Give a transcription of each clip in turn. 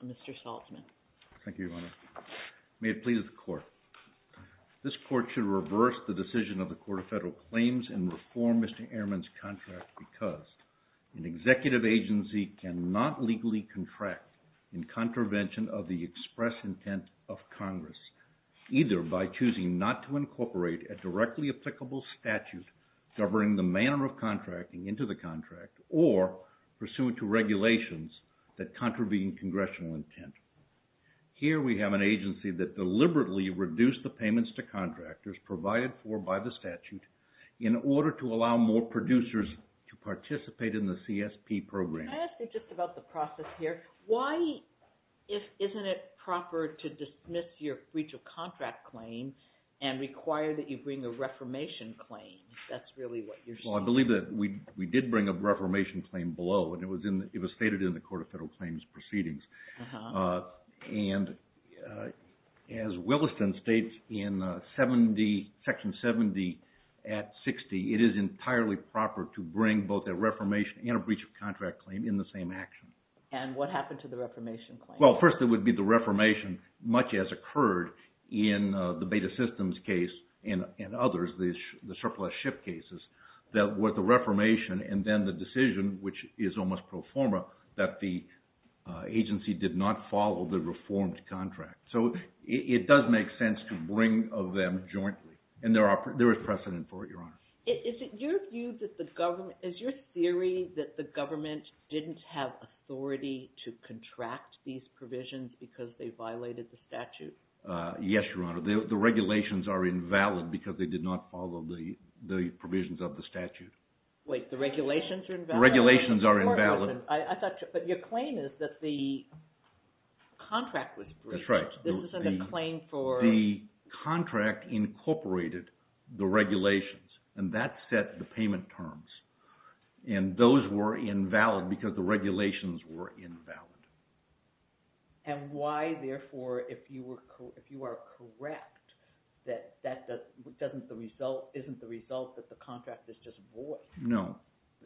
and Mr. Saltzman. Thank you, Your Honor. May it please the Court. This Court should reverse the decision of the Court of Federal Claims and reform Mr. Ehrman's contract because an executive agency cannot legally contract in contravention of the express intent of Congress, either by choosing not to incorporate a directly applicable statute governing the manner of contracting into the contract or pursuant to regulations that contravene congressional intent. Here we have an agency that deliberately reduced the payments to contractors provided for by the statute in order to allow more producers to participate in the CSP program. I ask you just about the process here. Why isn't it proper to dismiss your breach of contract claim and require that you bring a reformation claim, if that's really what you're saying? Well, I believe that we did bring a reformation claim below and it was stated in the Court of Federal Claims proceedings. And as Williston states in Section 70 at 60, it is entirely proper to bring both a reformation and a breach of contract claim in the same action. And what happened to the reformation claim? Well, first it would be the reformation much as occurred in the Beta Systems case and others, the surplus ship cases, that with the reformation and then the decision, which is almost pro forma, that the agency did not follow the reformed contract. So it does make sense to bring of them jointly. And there is precedent for it, Your Honor. Is it your view that the government, is your theory that the government didn't have authority to contract these provisions because they violated the statute? Yes, Your Honor. The regulations are invalid because they did not follow the provisions of the statute. Wait, the regulations are invalid? The regulations are invalid. I thought, but your claim is that the contract was breached. That's right. This isn't a claim for... The contract incorporated the regulations and that set the payment terms. And those were invalid because the regulations were invalid. And why, therefore, if you are correct, that isn't the result that the contract is just void? No.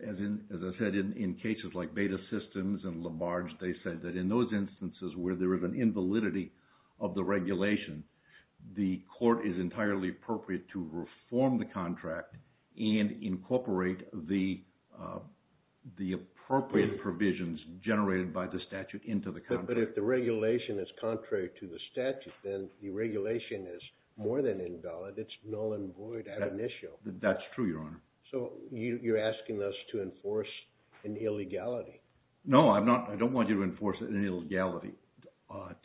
As I said, in cases like Beta Systems and Labarge, they said that in those instances where there is an issue, it is entirely appropriate to reform the contract and incorporate the appropriate provisions generated by the statute into the contract. But if the regulation is contrary to the statute, then the regulation is more than invalid. It's null and void at an issue. That's true, Your Honor. So you're asking us to enforce an illegality? No, I don't want you to enforce an illegality.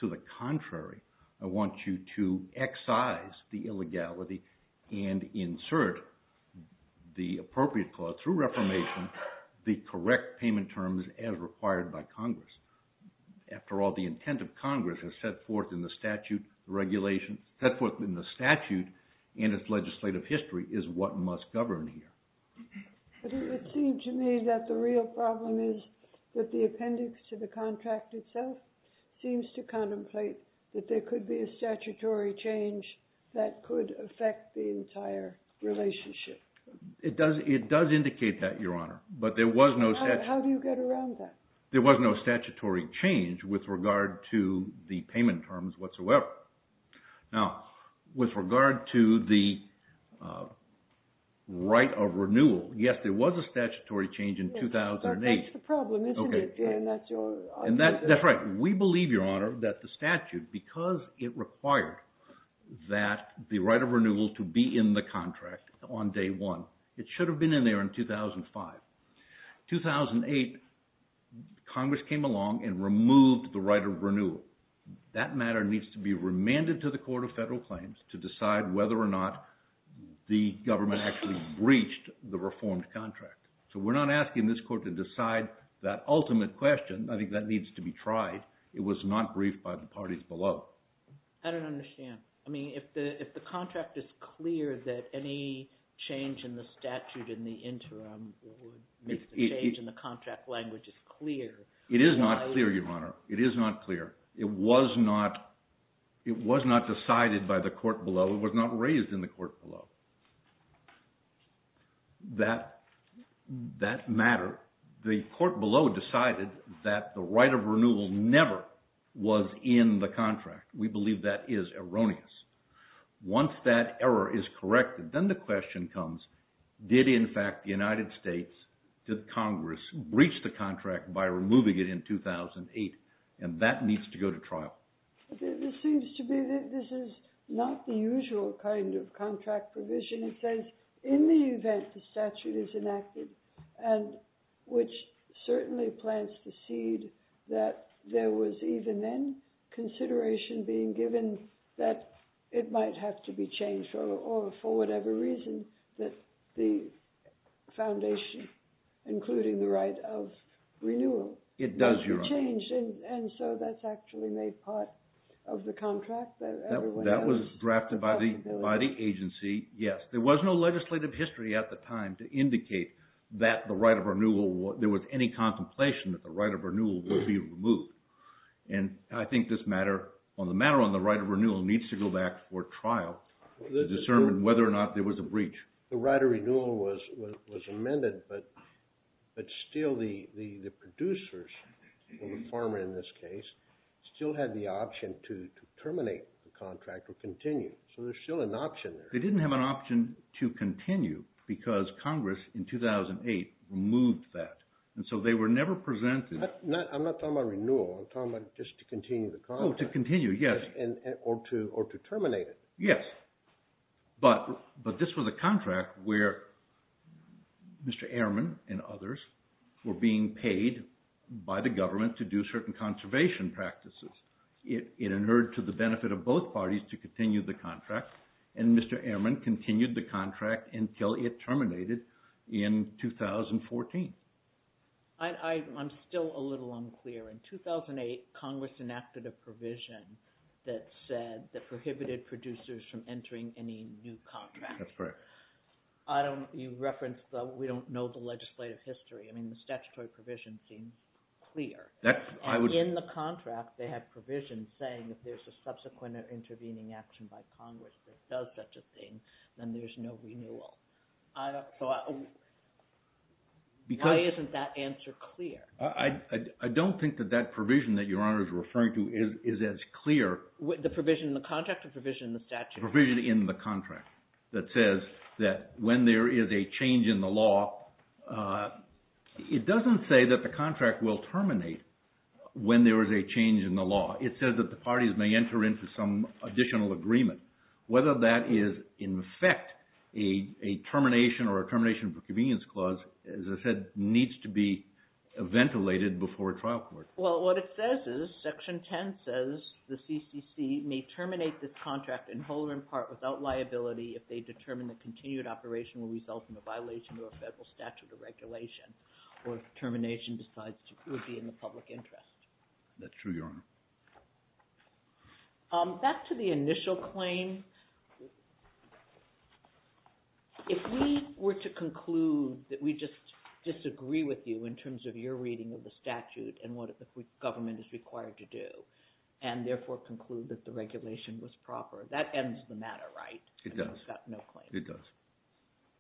To the contrary, I want you to excise the illegality and insert the appropriate clause through reformation, the correct payment terms as required by Congress. After all, the intent of Congress has set forth in the statute and its legislative history is what must govern here. But it would seem to me that the real problem is that the appendix to the contract itself seems to contemplate that there could be a statutory change that could affect the entire relationship. It does indicate that, Your Honor. But there was no... How do you get around that? There was no statutory change with regard to the payment terms whatsoever. Now, with regard to the right of renewal, yes, there was a statutory change in 2008. That's the problem, isn't it, Jan? That's your argument. That's right. We believe, Your Honor, that the statute, because it required that the right of renewal to be in the Congress came along and removed the right of renewal. That matter needs to be remanded to the Court of Federal Claims to decide whether or not the government actually breached the reformed contract. So we're not asking this Court to decide that ultimate question. I think that needs to be tried. It was not briefed by the parties below. I don't understand. I mean, if the contract is clear that any change in the statute in the interim would make the change in the contract language as clear... It is not clear, Your Honor. It is not clear. It was not decided by the Court below. It was not raised in the Court below. That matter, the Court below decided that the right of renewal never was in the contract. We believe that is erroneous. Once that error is corrected, then the question comes, did in fact the United States, did Congress, breach the contract by removing it in 2008? And that needs to go to trial. It seems to me that this is not the usual kind of contract provision. It says, in the event the statute is enacted, and which certainly plants the seed that there was even then consideration being given that it might have to be changed, or for whatever reason, that the foundation, including the right of renewal... It does, Your Honor. ...changed, and so that's actually made part of the contract that everyone has. That was drafted by the agency, yes. There was no legislative history at the time to indicate that the right of renewal, there was any contemplation that the right of renewal would be removed. And I think this matter, on the matter on the right of renewal, needs to go back for trial to determine whether or not there was a breach. The right of renewal was amended, but still the producers, or the farmer in this case, still had the option to terminate the contract or continue. So there's still an option there. They didn't have an option to continue because Congress in 2008 removed that, and so they were never presented... I'm not talking about renewal. I'm talking about just to continue the contract. Oh, to continue, yes. Or to terminate it. Yes, but this was a contract where Mr. Ehrman and others were being paid by the government to do certain conservation practices. It inherited to the benefit of both parties to continue the contract, and Mr. Ehrman continued the contract until it terminated in 2014. I'm still a little unclear. In 2008, Congress enacted a provision that said, that prohibited producers from entering any new contract. That's correct. You referenced the, we don't know the legislative history. I mean, the statutory provision seems clear. And in the contract, they have provisions saying that there's a subsequent intervening action by Congress that does such a thing, then there's no renewal. Why isn't that answer clear? I don't think that that provision that Your Honor is referring to is as clear. The provision in the contract or provision in the statute? Provision in the contract that says that when there is a change in the law, it doesn't say that the contract will terminate when there is a change in the law. It says that parties may enter into some additional agreement. Whether that is in effect a termination or a termination for convenience clause, as I said, needs to be ventilated before a trial court. Well, what it says is, Section 10 says the CCC may terminate this contract in whole or in part without liability if they determine that continued operation will result in a violation of a federal statute or regulation, or if termination decides to be in the public interest. That's true, Your Honor. Back to the initial claim. If we were to conclude that we just disagree with you in terms of your reading of the statute and what the government is required to do, and therefore conclude that the regulation was proper, that ends the matter, right? It does. I mean, it's got no claim. It does.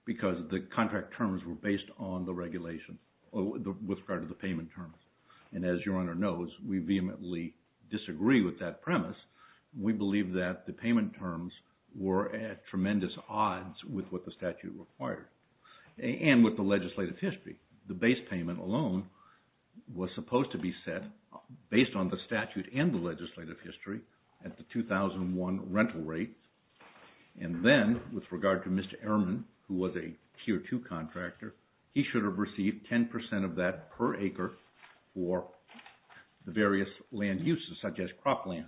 Because the contract terms were based on the regulation with regard to the payment terms. And as Your Honor knows, we vehemently disagree with that premise. We believe that the payment terms were at tremendous odds with what the statute required, and with the legislative history. The base payment alone was supposed to be set based on the statute and the legislative history at the 2001 rental rate. And then, with regard to Mr. Ehrman, who was a Tier 2 contractor, he should have received 10% of that per acre for the various land uses, such as cropland.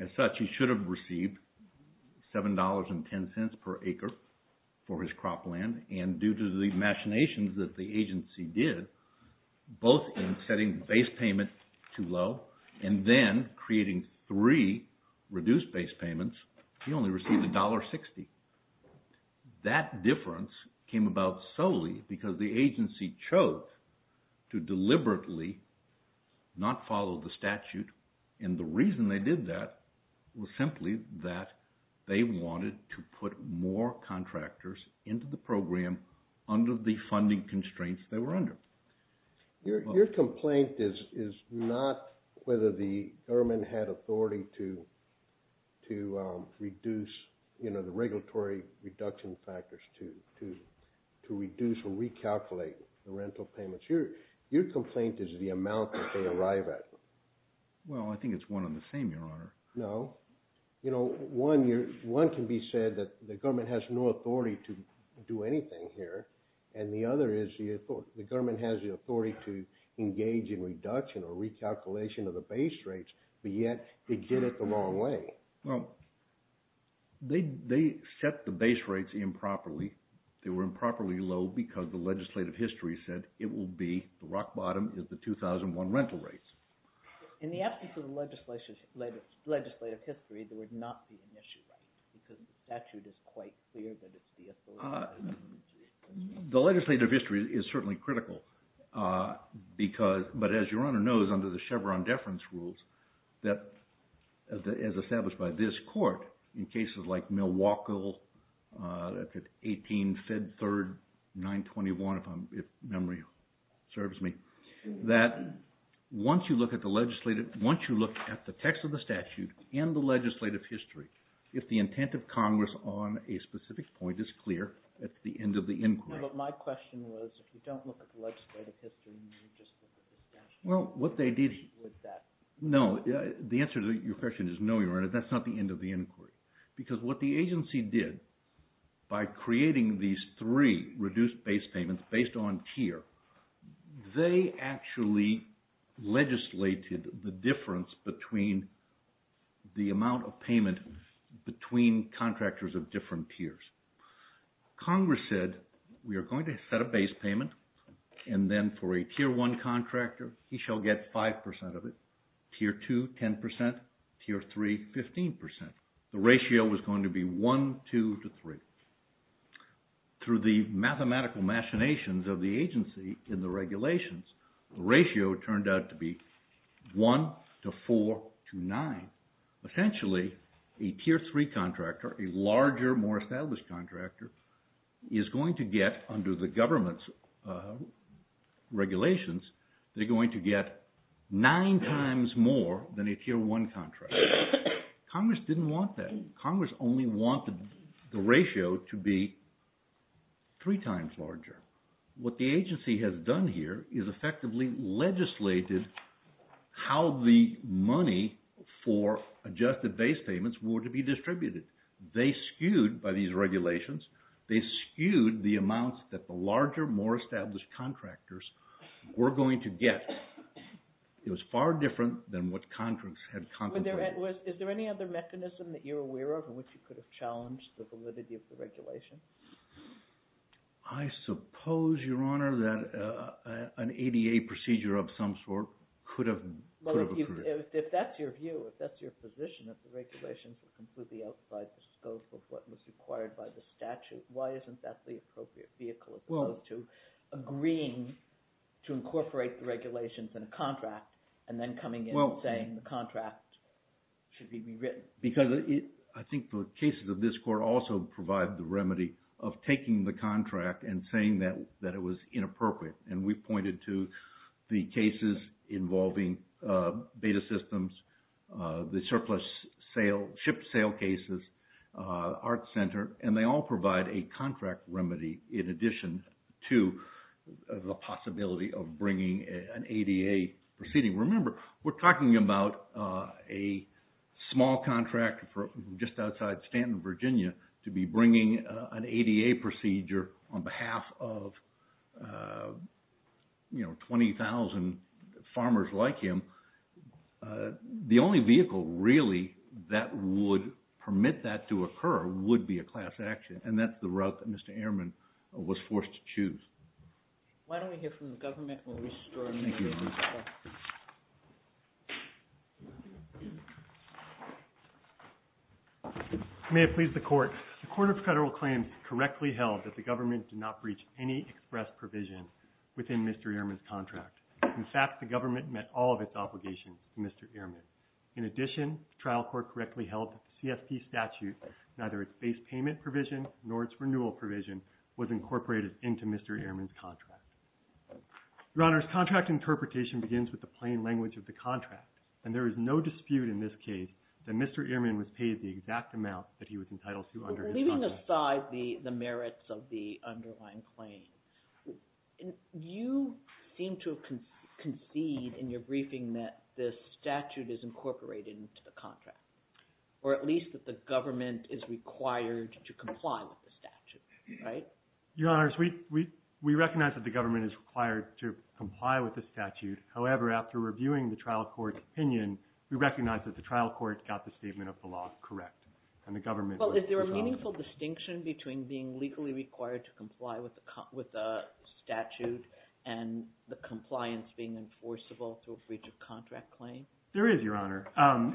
As such, he should have received $7.10 per acre for his cropland. And due to the machinations that the agency did, both in setting base payment too low, and then creating three reduced base payments, he only received $1.60. That difference came about solely because the agency chose to deliberately not follow the statute. And the reason they did that was simply that they wanted to put more contractors into the program under the funding constraints they were under. Your complaint is not whether the government had authority to reduce the regulatory reduction factors, to reduce or recalculate the rental payments. Your complaint is the amount that they arrive at. Well, I think it's one and the same, Your Honor. No. You know, one can be said that the government has no authority to do anything here, and the other is the government has the authority to engage in reduction or recalculation of the base rates, but yet it did it the wrong way. Well, they set the base rates improperly. They were improperly low because the legislative history said it will be, the rock bottom is the 2001 rental rates. In the absence of the legislative history, there would not be an issue, because the statute is quite clear that it's the authority. The legislative history is certainly critical, but as Your Honor knows, under the Chevron deference rules, that as established by this Court, in cases like Milwaukee, 18 Fed Third 921, if memory serves me, that once you look at the legislative, once you look at the text of the statute and the legislative history, if the intent of Congress on a specific point is clear, that's the end of the inquiry. No, but my question was, if you don't look at the legislative history, and you just look at the statute, would that? No, the answer to your question is no, Your Honor. That's not the end of the inquiry, because what the agency did, by creating these three reduced base payments based on tier, they actually legislated the difference between the amount of payment between contractors of different tiers. Congress said, we are going to set a base payment, and then for a Tier 1 contractor, he shall get 5% of it, Tier 2, 10%, Tier 3, 15%. The ratio was going to be 1, 2, to 3. So, through the mathematical machinations of the agency in the regulations, the ratio turned out to be 1 to 4 to 9. Essentially, a Tier 3 contractor, a larger, more established contractor, is going to get, under the government's regulations, they're going to get 9 times more than a Tier 1 contractor. Congress didn't want that. Congress only wanted the ratio to be three times larger. What the agency has done here is effectively legislated how the money for adjusted base payments were to be distributed. They skewed, by these regulations, they skewed the amounts that the larger, more established contractors were going to get. It was far different than what contracts had contemplated. Is there any other mechanism that you're aware of in which you could have challenged the validity of the regulation? I suppose, Your Honor, that an ADA procedure of some sort could have... If that's your view, if that's your position, that the regulations were completely outside the scope of what was required by the statute, why isn't that the appropriate vehicle as opposed to agreeing to incorporate the regulations in a contract and then coming in saying the contract should be rewritten? Because I think the cases of this Court also provide the remedy of taking the contract and saying that it was inappropriate. We've pointed to the cases involving beta systems, the surplus shipped sale cases, Art Center, and they all provide a contract remedy in addition to the possibility of bringing an ADA proceeding. Remember, we're talking about a small contract for just outside Stanton, Virginia, to be bringing an ADA procedure on behalf of 20,000 farmers like him. The only vehicle really that would permit that to occur would be a class action, and that's the route that Mr. Ehrman was forced to choose. Why don't we hear from the government? May it please the Court. The Court of Federal Claims correctly held that the government did not breach any express provision within Mr. Ehrman's contract. In fact, the government met all of its obligations to Mr. Ehrman. In addition, the trial court correctly held that the CSP statute, neither its base payment provision nor its renewal provision, was incorporated into Mr. Ehrman's contract. Your Honor, his contract interpretation begins with the plain language of the contract, and there is no dispute in this case that Mr. Ehrman was paid the exact amount that he was entitled to under his contract. Leaving aside the merits of the underlying claim, you seem to concede in your briefing that this statute is incorporated into the contract, or at least that the government is required to comply with the statute, right? Your Honor, we recognize that the government is required to comply with the statute. However, after reviewing the trial court's opinion, we recognize that the trial court got the statement of the law correct, and the government... Well, is there a meaningful distinction between being legally required to comply with the statute and the compliance being enforceable through a breach of contract claim? There is, Your Honor.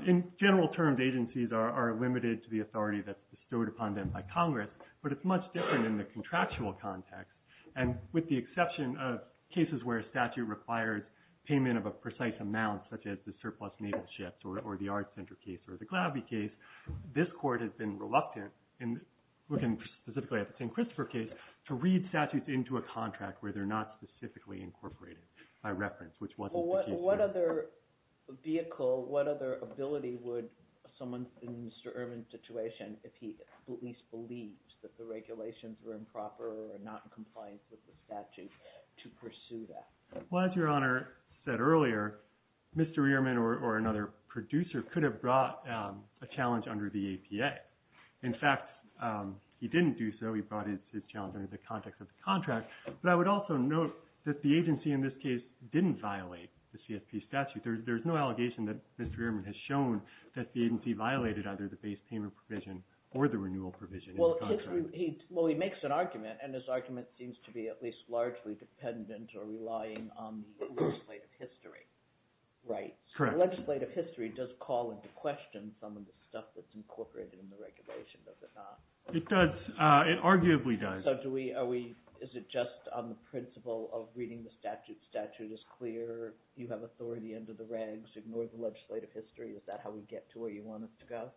In general terms, agencies are limited to the authority that's bestowed upon them by Congress, but it's much different in the contractual context. And with the exception of cases where a statute requires payment of a precise amount, such as the surplus naval ships, or the Art Center case, or the Glavie case, this court has been reluctant, and looking specifically at the St. Christopher case, to read statutes into a contract where they're not specifically incorporated by reference, which wasn't the case here. So what other vehicle, what other ability would someone in Mr. Ehrman's situation, if he at least believed that the regulations were improper or not in compliance with the statute, to pursue that? Well, as Your Honor said earlier, Mr. Ehrman or another producer could have brought a challenge under the APA. In fact, he didn't do so. He brought his challenge under the context of the contract. But I would also note that the agency in this case didn't violate the CSP statute. There's no allegation that Mr. Ehrman has shown that the agency violated either the base payment provision or the renewal provision in the contract. Well, he makes an argument, and his argument seems to be at least largely dependent or relying on the legislative history, right? Correct. The legislative history does call into question some of the stuff that's incorporated in the regulation, does it not? It does. It arguably does. So do we, are we, is it just on the principle of reading the statute? Statute is clear. You have authority under the regs. Ignore the legislative history. Is that how we get to where you want us to go?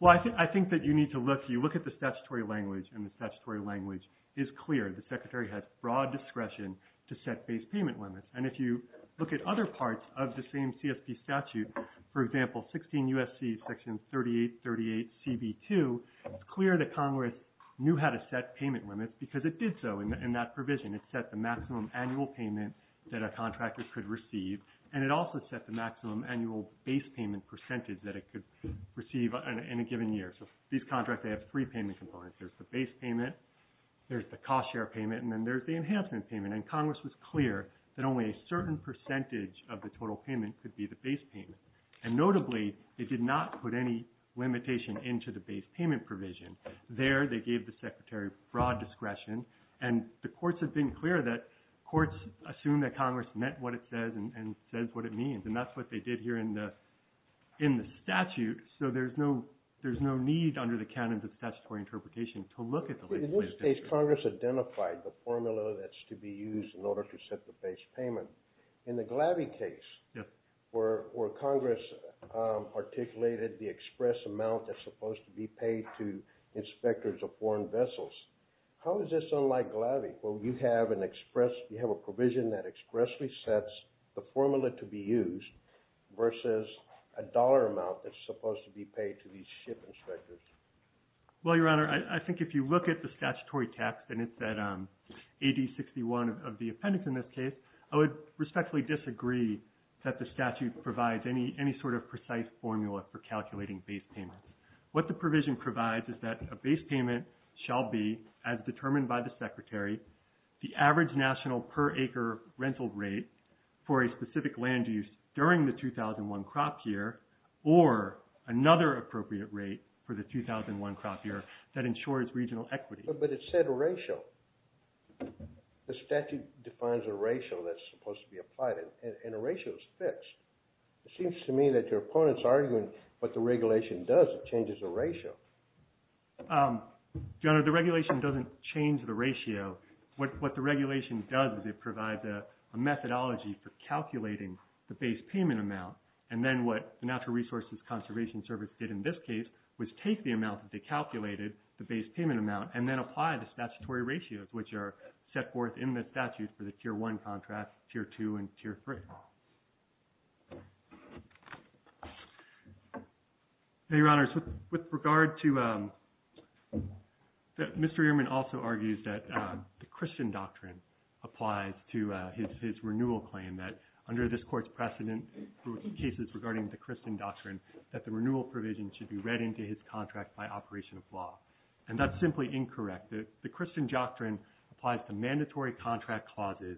Well, I think that you need to look. You look at the statutory language, and the statutory language is clear. The Secretary has broad discretion to set base payment limits. And if you look at other parts of the same CSP statute, for example, 16 U.S.C. Section 3838Cb2, it's clear that Congress knew how to set payment limits because it did so in that provision. It set the maximum annual payment that a contractor could receive. And it also set the maximum annual base payment percentage that it could receive in a given year. So these contracts, they have three payment components. There's the base payment, there's the cost share payment, and then there's the enhancement payment. And Congress was clear that only a certain percentage of the total payment could be the base payment. And notably, they did not put any limitation into the base payment provision. There, they gave the Secretary broad discretion. And the courts have been clear that courts assume that Congress met what it says and says what it means. And that's what they did here in the statute. So there's no need under the canons of statutory interpretation to look at the legislation. In this case, Congress identified the formula that's to be used in order to set the base payment. In the Glaby case, where Congress articulated the express amount that's supposed to be paid to inspectors of foreign vessels, how is this unlike Glaby, where you have an express, you have a provision that expressly sets the formula to be used versus a dollar amount that's supposed to be paid to these ship inspectors? Well, Your Honor, I think if you look at the statutory text, and it's at AD 61 of the appendix in this case, I would respectfully disagree that the statute provides any sort of precise formula for calculating base payments. What the provision provides is that a base payment shall be, as determined by the Secretary, the average national per acre rental rate for a specific land use during the 2001 crop year, or another appropriate rate for the 2001 crop year that ensures regional equity. But it said ratio. The statute defines a ratio that's supposed to be applied, and a ratio is fixed. It seems to me that your opponent's arguing what the regulation does, it changes the ratio. Your Honor, the regulation doesn't change the ratio. What the regulation does is it provides a methodology for calculating the base payment amount, and then what the Natural Resources Conservation Service did in this case was take the amount that they calculated, the base payment amount, and then apply the statutory ratios, which are set forth in the statute for the Tier 1 contract, Tier 2, and Tier 3. Your Honor, with regard to, Mr. Ehrman also argues that the Christian doctrine applies to his renewal claim, that under this court's precedent, through cases regarding the Christian doctrine, that the renewal provision should be read into his contract by operation of law. And that's simply incorrect. The Christian doctrine applies to mandatory contract clauses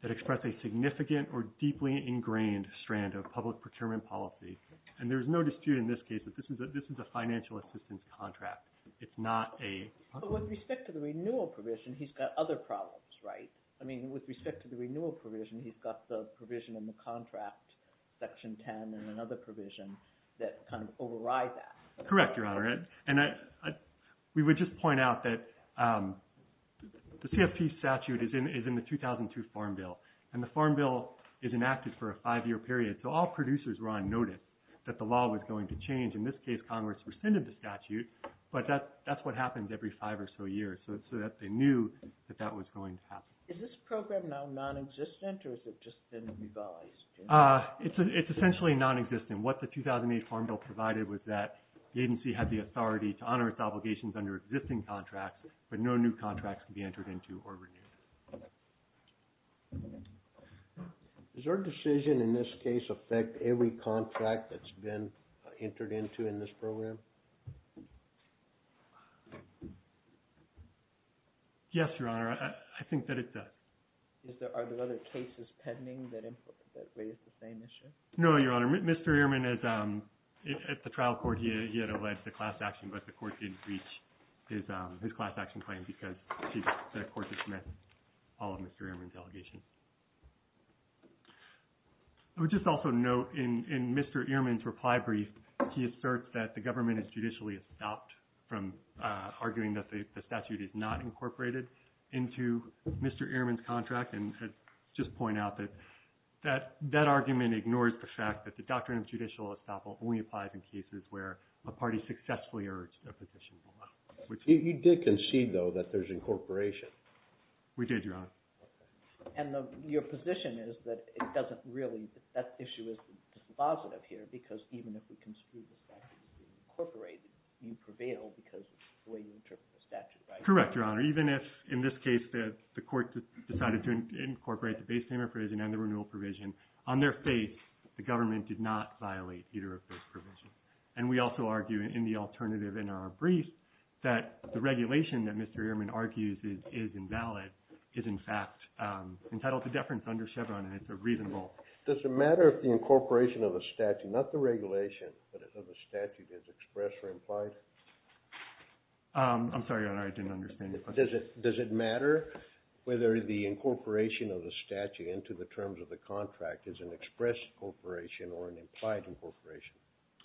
that express a significant or deeply ingrained strand of public procurement policy. And there's no dispute in this case that this is a financial assistance contract. It's not a... But with respect to the renewal provision, he's got other problems, right? I mean, with respect to the renewal provision, he's got the provision in the contract, Section 10, and another provision that kind of override that. Correct, Your Honor. And we would just point out that the CFP statute is in the 2002 Farm Bill, and the Farm Bill is enacted for a five-year period. So all producers were on notice that the law was going to change. In this case, Congress rescinded the statute, but that's what happens every five or so years, so that they knew that that was going to happen. Is this program now non-existent, or has it just been revised? It's essentially non-existent. What the 2008 Farm Bill provided was that the agency had the authority to honor its obligations under existing contracts, but no new contracts can be entered into or renewed. Does our decision in this case affect every contract that's been entered into in this program? Yes, Your Honor. I think that it does. Are there other cases pending that raise the same issue? No, Your Honor. Mr. Ehrman, at the trial court, he had alleged the class action, but the court didn't reach his class action claim because the court dismissed all of Mr. Ehrman's allegations. I would just also note in Mr. Ehrman's reply brief, he asserts that the government has judicially stopped from arguing that the statute is not incorporated into Mr. Ehrman's contract, and just point out that that argument ignores the fact that the doctrine of judicial estoppel only applies in cases where a party successfully urged a petition below, You did concede, though, that there's incorporation. We did, Your Honor. And your position is that it doesn't really, that issue is dispositive here because even if we construe the statute to be incorporated, you prevail because of the way you interpret the statute, right? Correct, Your Honor. Even if, in this case, the court decided to incorporate the base payment provision and the renewal provision, on their faith, the government did not violate either of those provisions. And we also argue in the alternative in our brief, that the regulation that Mr. Ehrman argues is invalid is in fact entitled to deference under Chevron, and it's a reasonable. Does it matter if the incorporation of the statute, not the regulation, but of the statute is expressed or implied? I'm sorry, Your Honor, I didn't understand your question. Does it matter of the statute into the terms of the contract is an expressed incorporation or an implied incorporation?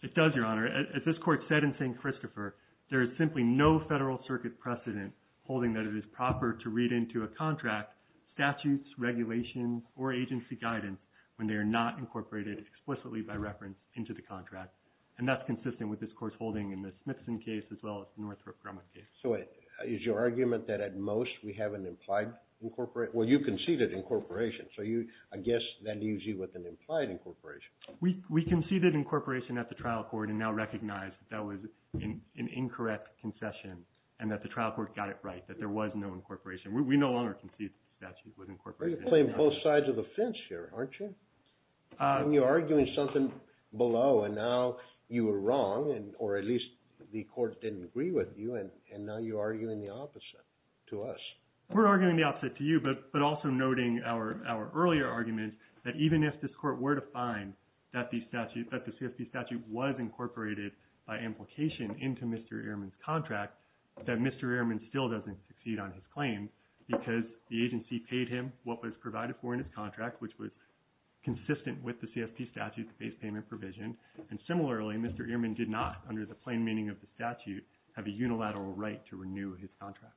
It does, Your Honor. As this Court said in St. Christopher, there is simply no Federal Circuit precedent holding that it is proper to read into a contract, statutes, regulations, or agency guidance when they are not incorporated explicitly by reference into the contract. And that's consistent with this Court's holding in the Smithson case as well as the Northrop Grumman case. So is your argument that at most we have an implied incorporation? Well, you conceded incorporation, so I guess that leaves you with an implied incorporation. We conceded incorporation at the trial court and now recognize that that was an incorrect concession and that the trial court got it right, that there was no incorporation. We no longer concede that the statute was incorporated. You're playing both sides of the fence here, aren't you? And you're arguing something below and now you were wrong or at least the court didn't agree with you and now you're arguing the opposite to us. We're arguing the opposite to you, but also noting our earlier argument that even if this court were to find that the statute, that the CSB statute was incorporated by implication into Mr. Ehrman's contract, that Mr. Ehrman still doesn't succeed on his claim because the agency paid him what was provided for in his contract, which was consistent with the CSP statute, the base payment provision. And similarly, Mr. Ehrman did not, under the plain meaning of the statute, have a unilateral right to renew his contract.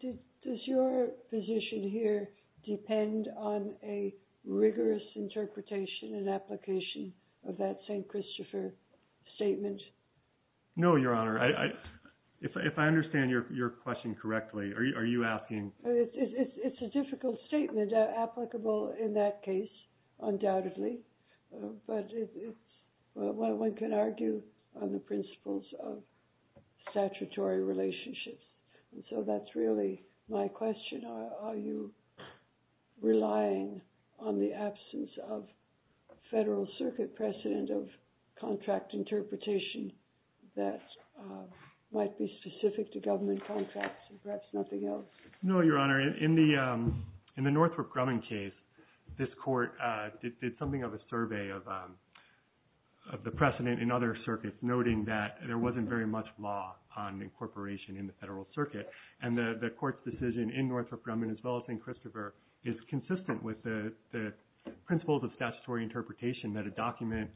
Does your position here depend on a rigorous interpretation and application of that St. Christopher statement? No, Your Honor. If I understand your question correctly, are you asking? It's a difficult statement, applicable in that case, undoubtedly, but one can argue on the principles of statutory relationships. And so that's really my question. Are you relying on the absence of federal circuit precedent of contract interpretation that might be specific to government contracts and perhaps nothing else? No, Your Honor. In the Northrop Grumman case, this court did something of a survey of the precedent in other circuits, noting that there wasn't very much law on incorporation in the federal circuit. And the court's decision in Northrop Grumman, as well as in Christopher, is consistent with the principle of statutory interpretation that a document,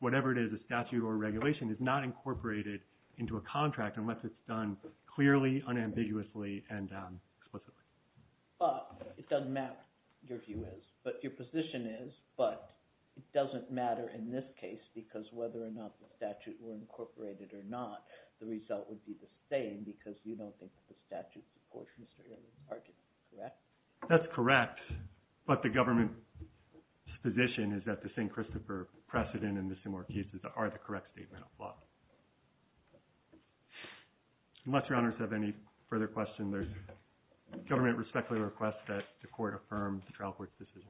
whatever it is, a statute or regulation is not incorporated into a contract unless it's done clearly, unambiguously and explicitly. It doesn't matter, your view is, but your position is, but it doesn't matter in this case because whether or not the statute were incorporated or not, the result would be the same because you don't think that the statute supports Mr. Earley's argument, correct? That's correct, but the government's position is that the St. Christopher precedent and the similar cases are the correct statement of law. Unless your honors have any further questions, there's a government respectfully request that the court affirms the trial court's decision.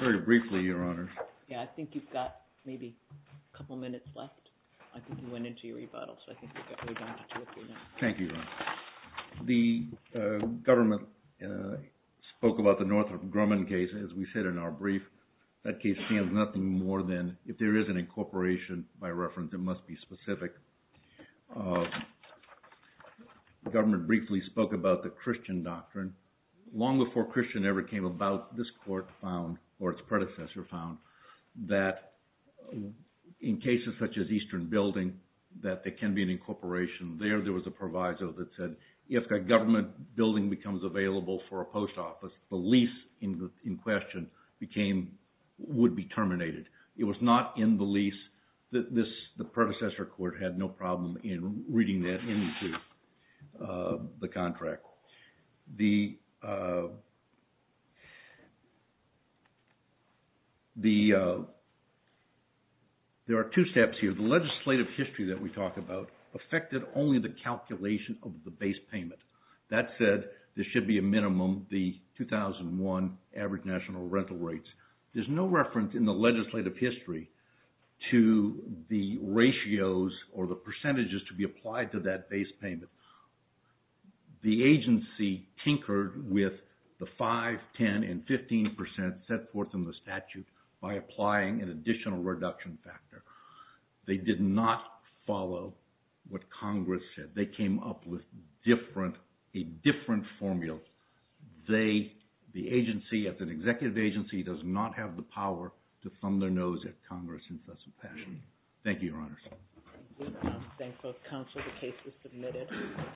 Very briefly, your honor. Yeah, I think you've got maybe a couple minutes left. I think you went into your rebuttal, so I think you've got way down to two or three minutes. Thank you, your honor. The government spoke about the Northrop Grumman case, as we said in our brief. That case stands nothing more than, if there is an incorporation, by reference, it must be specific. The government briefly spoke about the Christian doctrine. Long before Christian ever came about, this court found, or its predecessor found, that in cases such as Eastern Building, that there can be an incorporation. There, there was a proviso that said, if a government building becomes available for a post office, the lease in question would be terminated. It was not in the lease. The predecessor court had no problem in reading that into the contract. The, the, there are two steps here. The legislative history that we talked about affected only the calculation of the base payment. That said, there should be a minimum, the 2001 average national rental rates. There's no reference in the legislative history to the ratios or the percentages to be applied to that base payment. The agency tinkered with the 5%, 10%, and 15% set forth in the statute by applying an additional reduction factor. They did not follow what Congress said. They came up with different, a different formula. They, the agency, as an executive agency, does not have the power to thumb their nose at Congress in such a fashion. Thank you, Your Honors. Thank you, counsel. The case is submitted.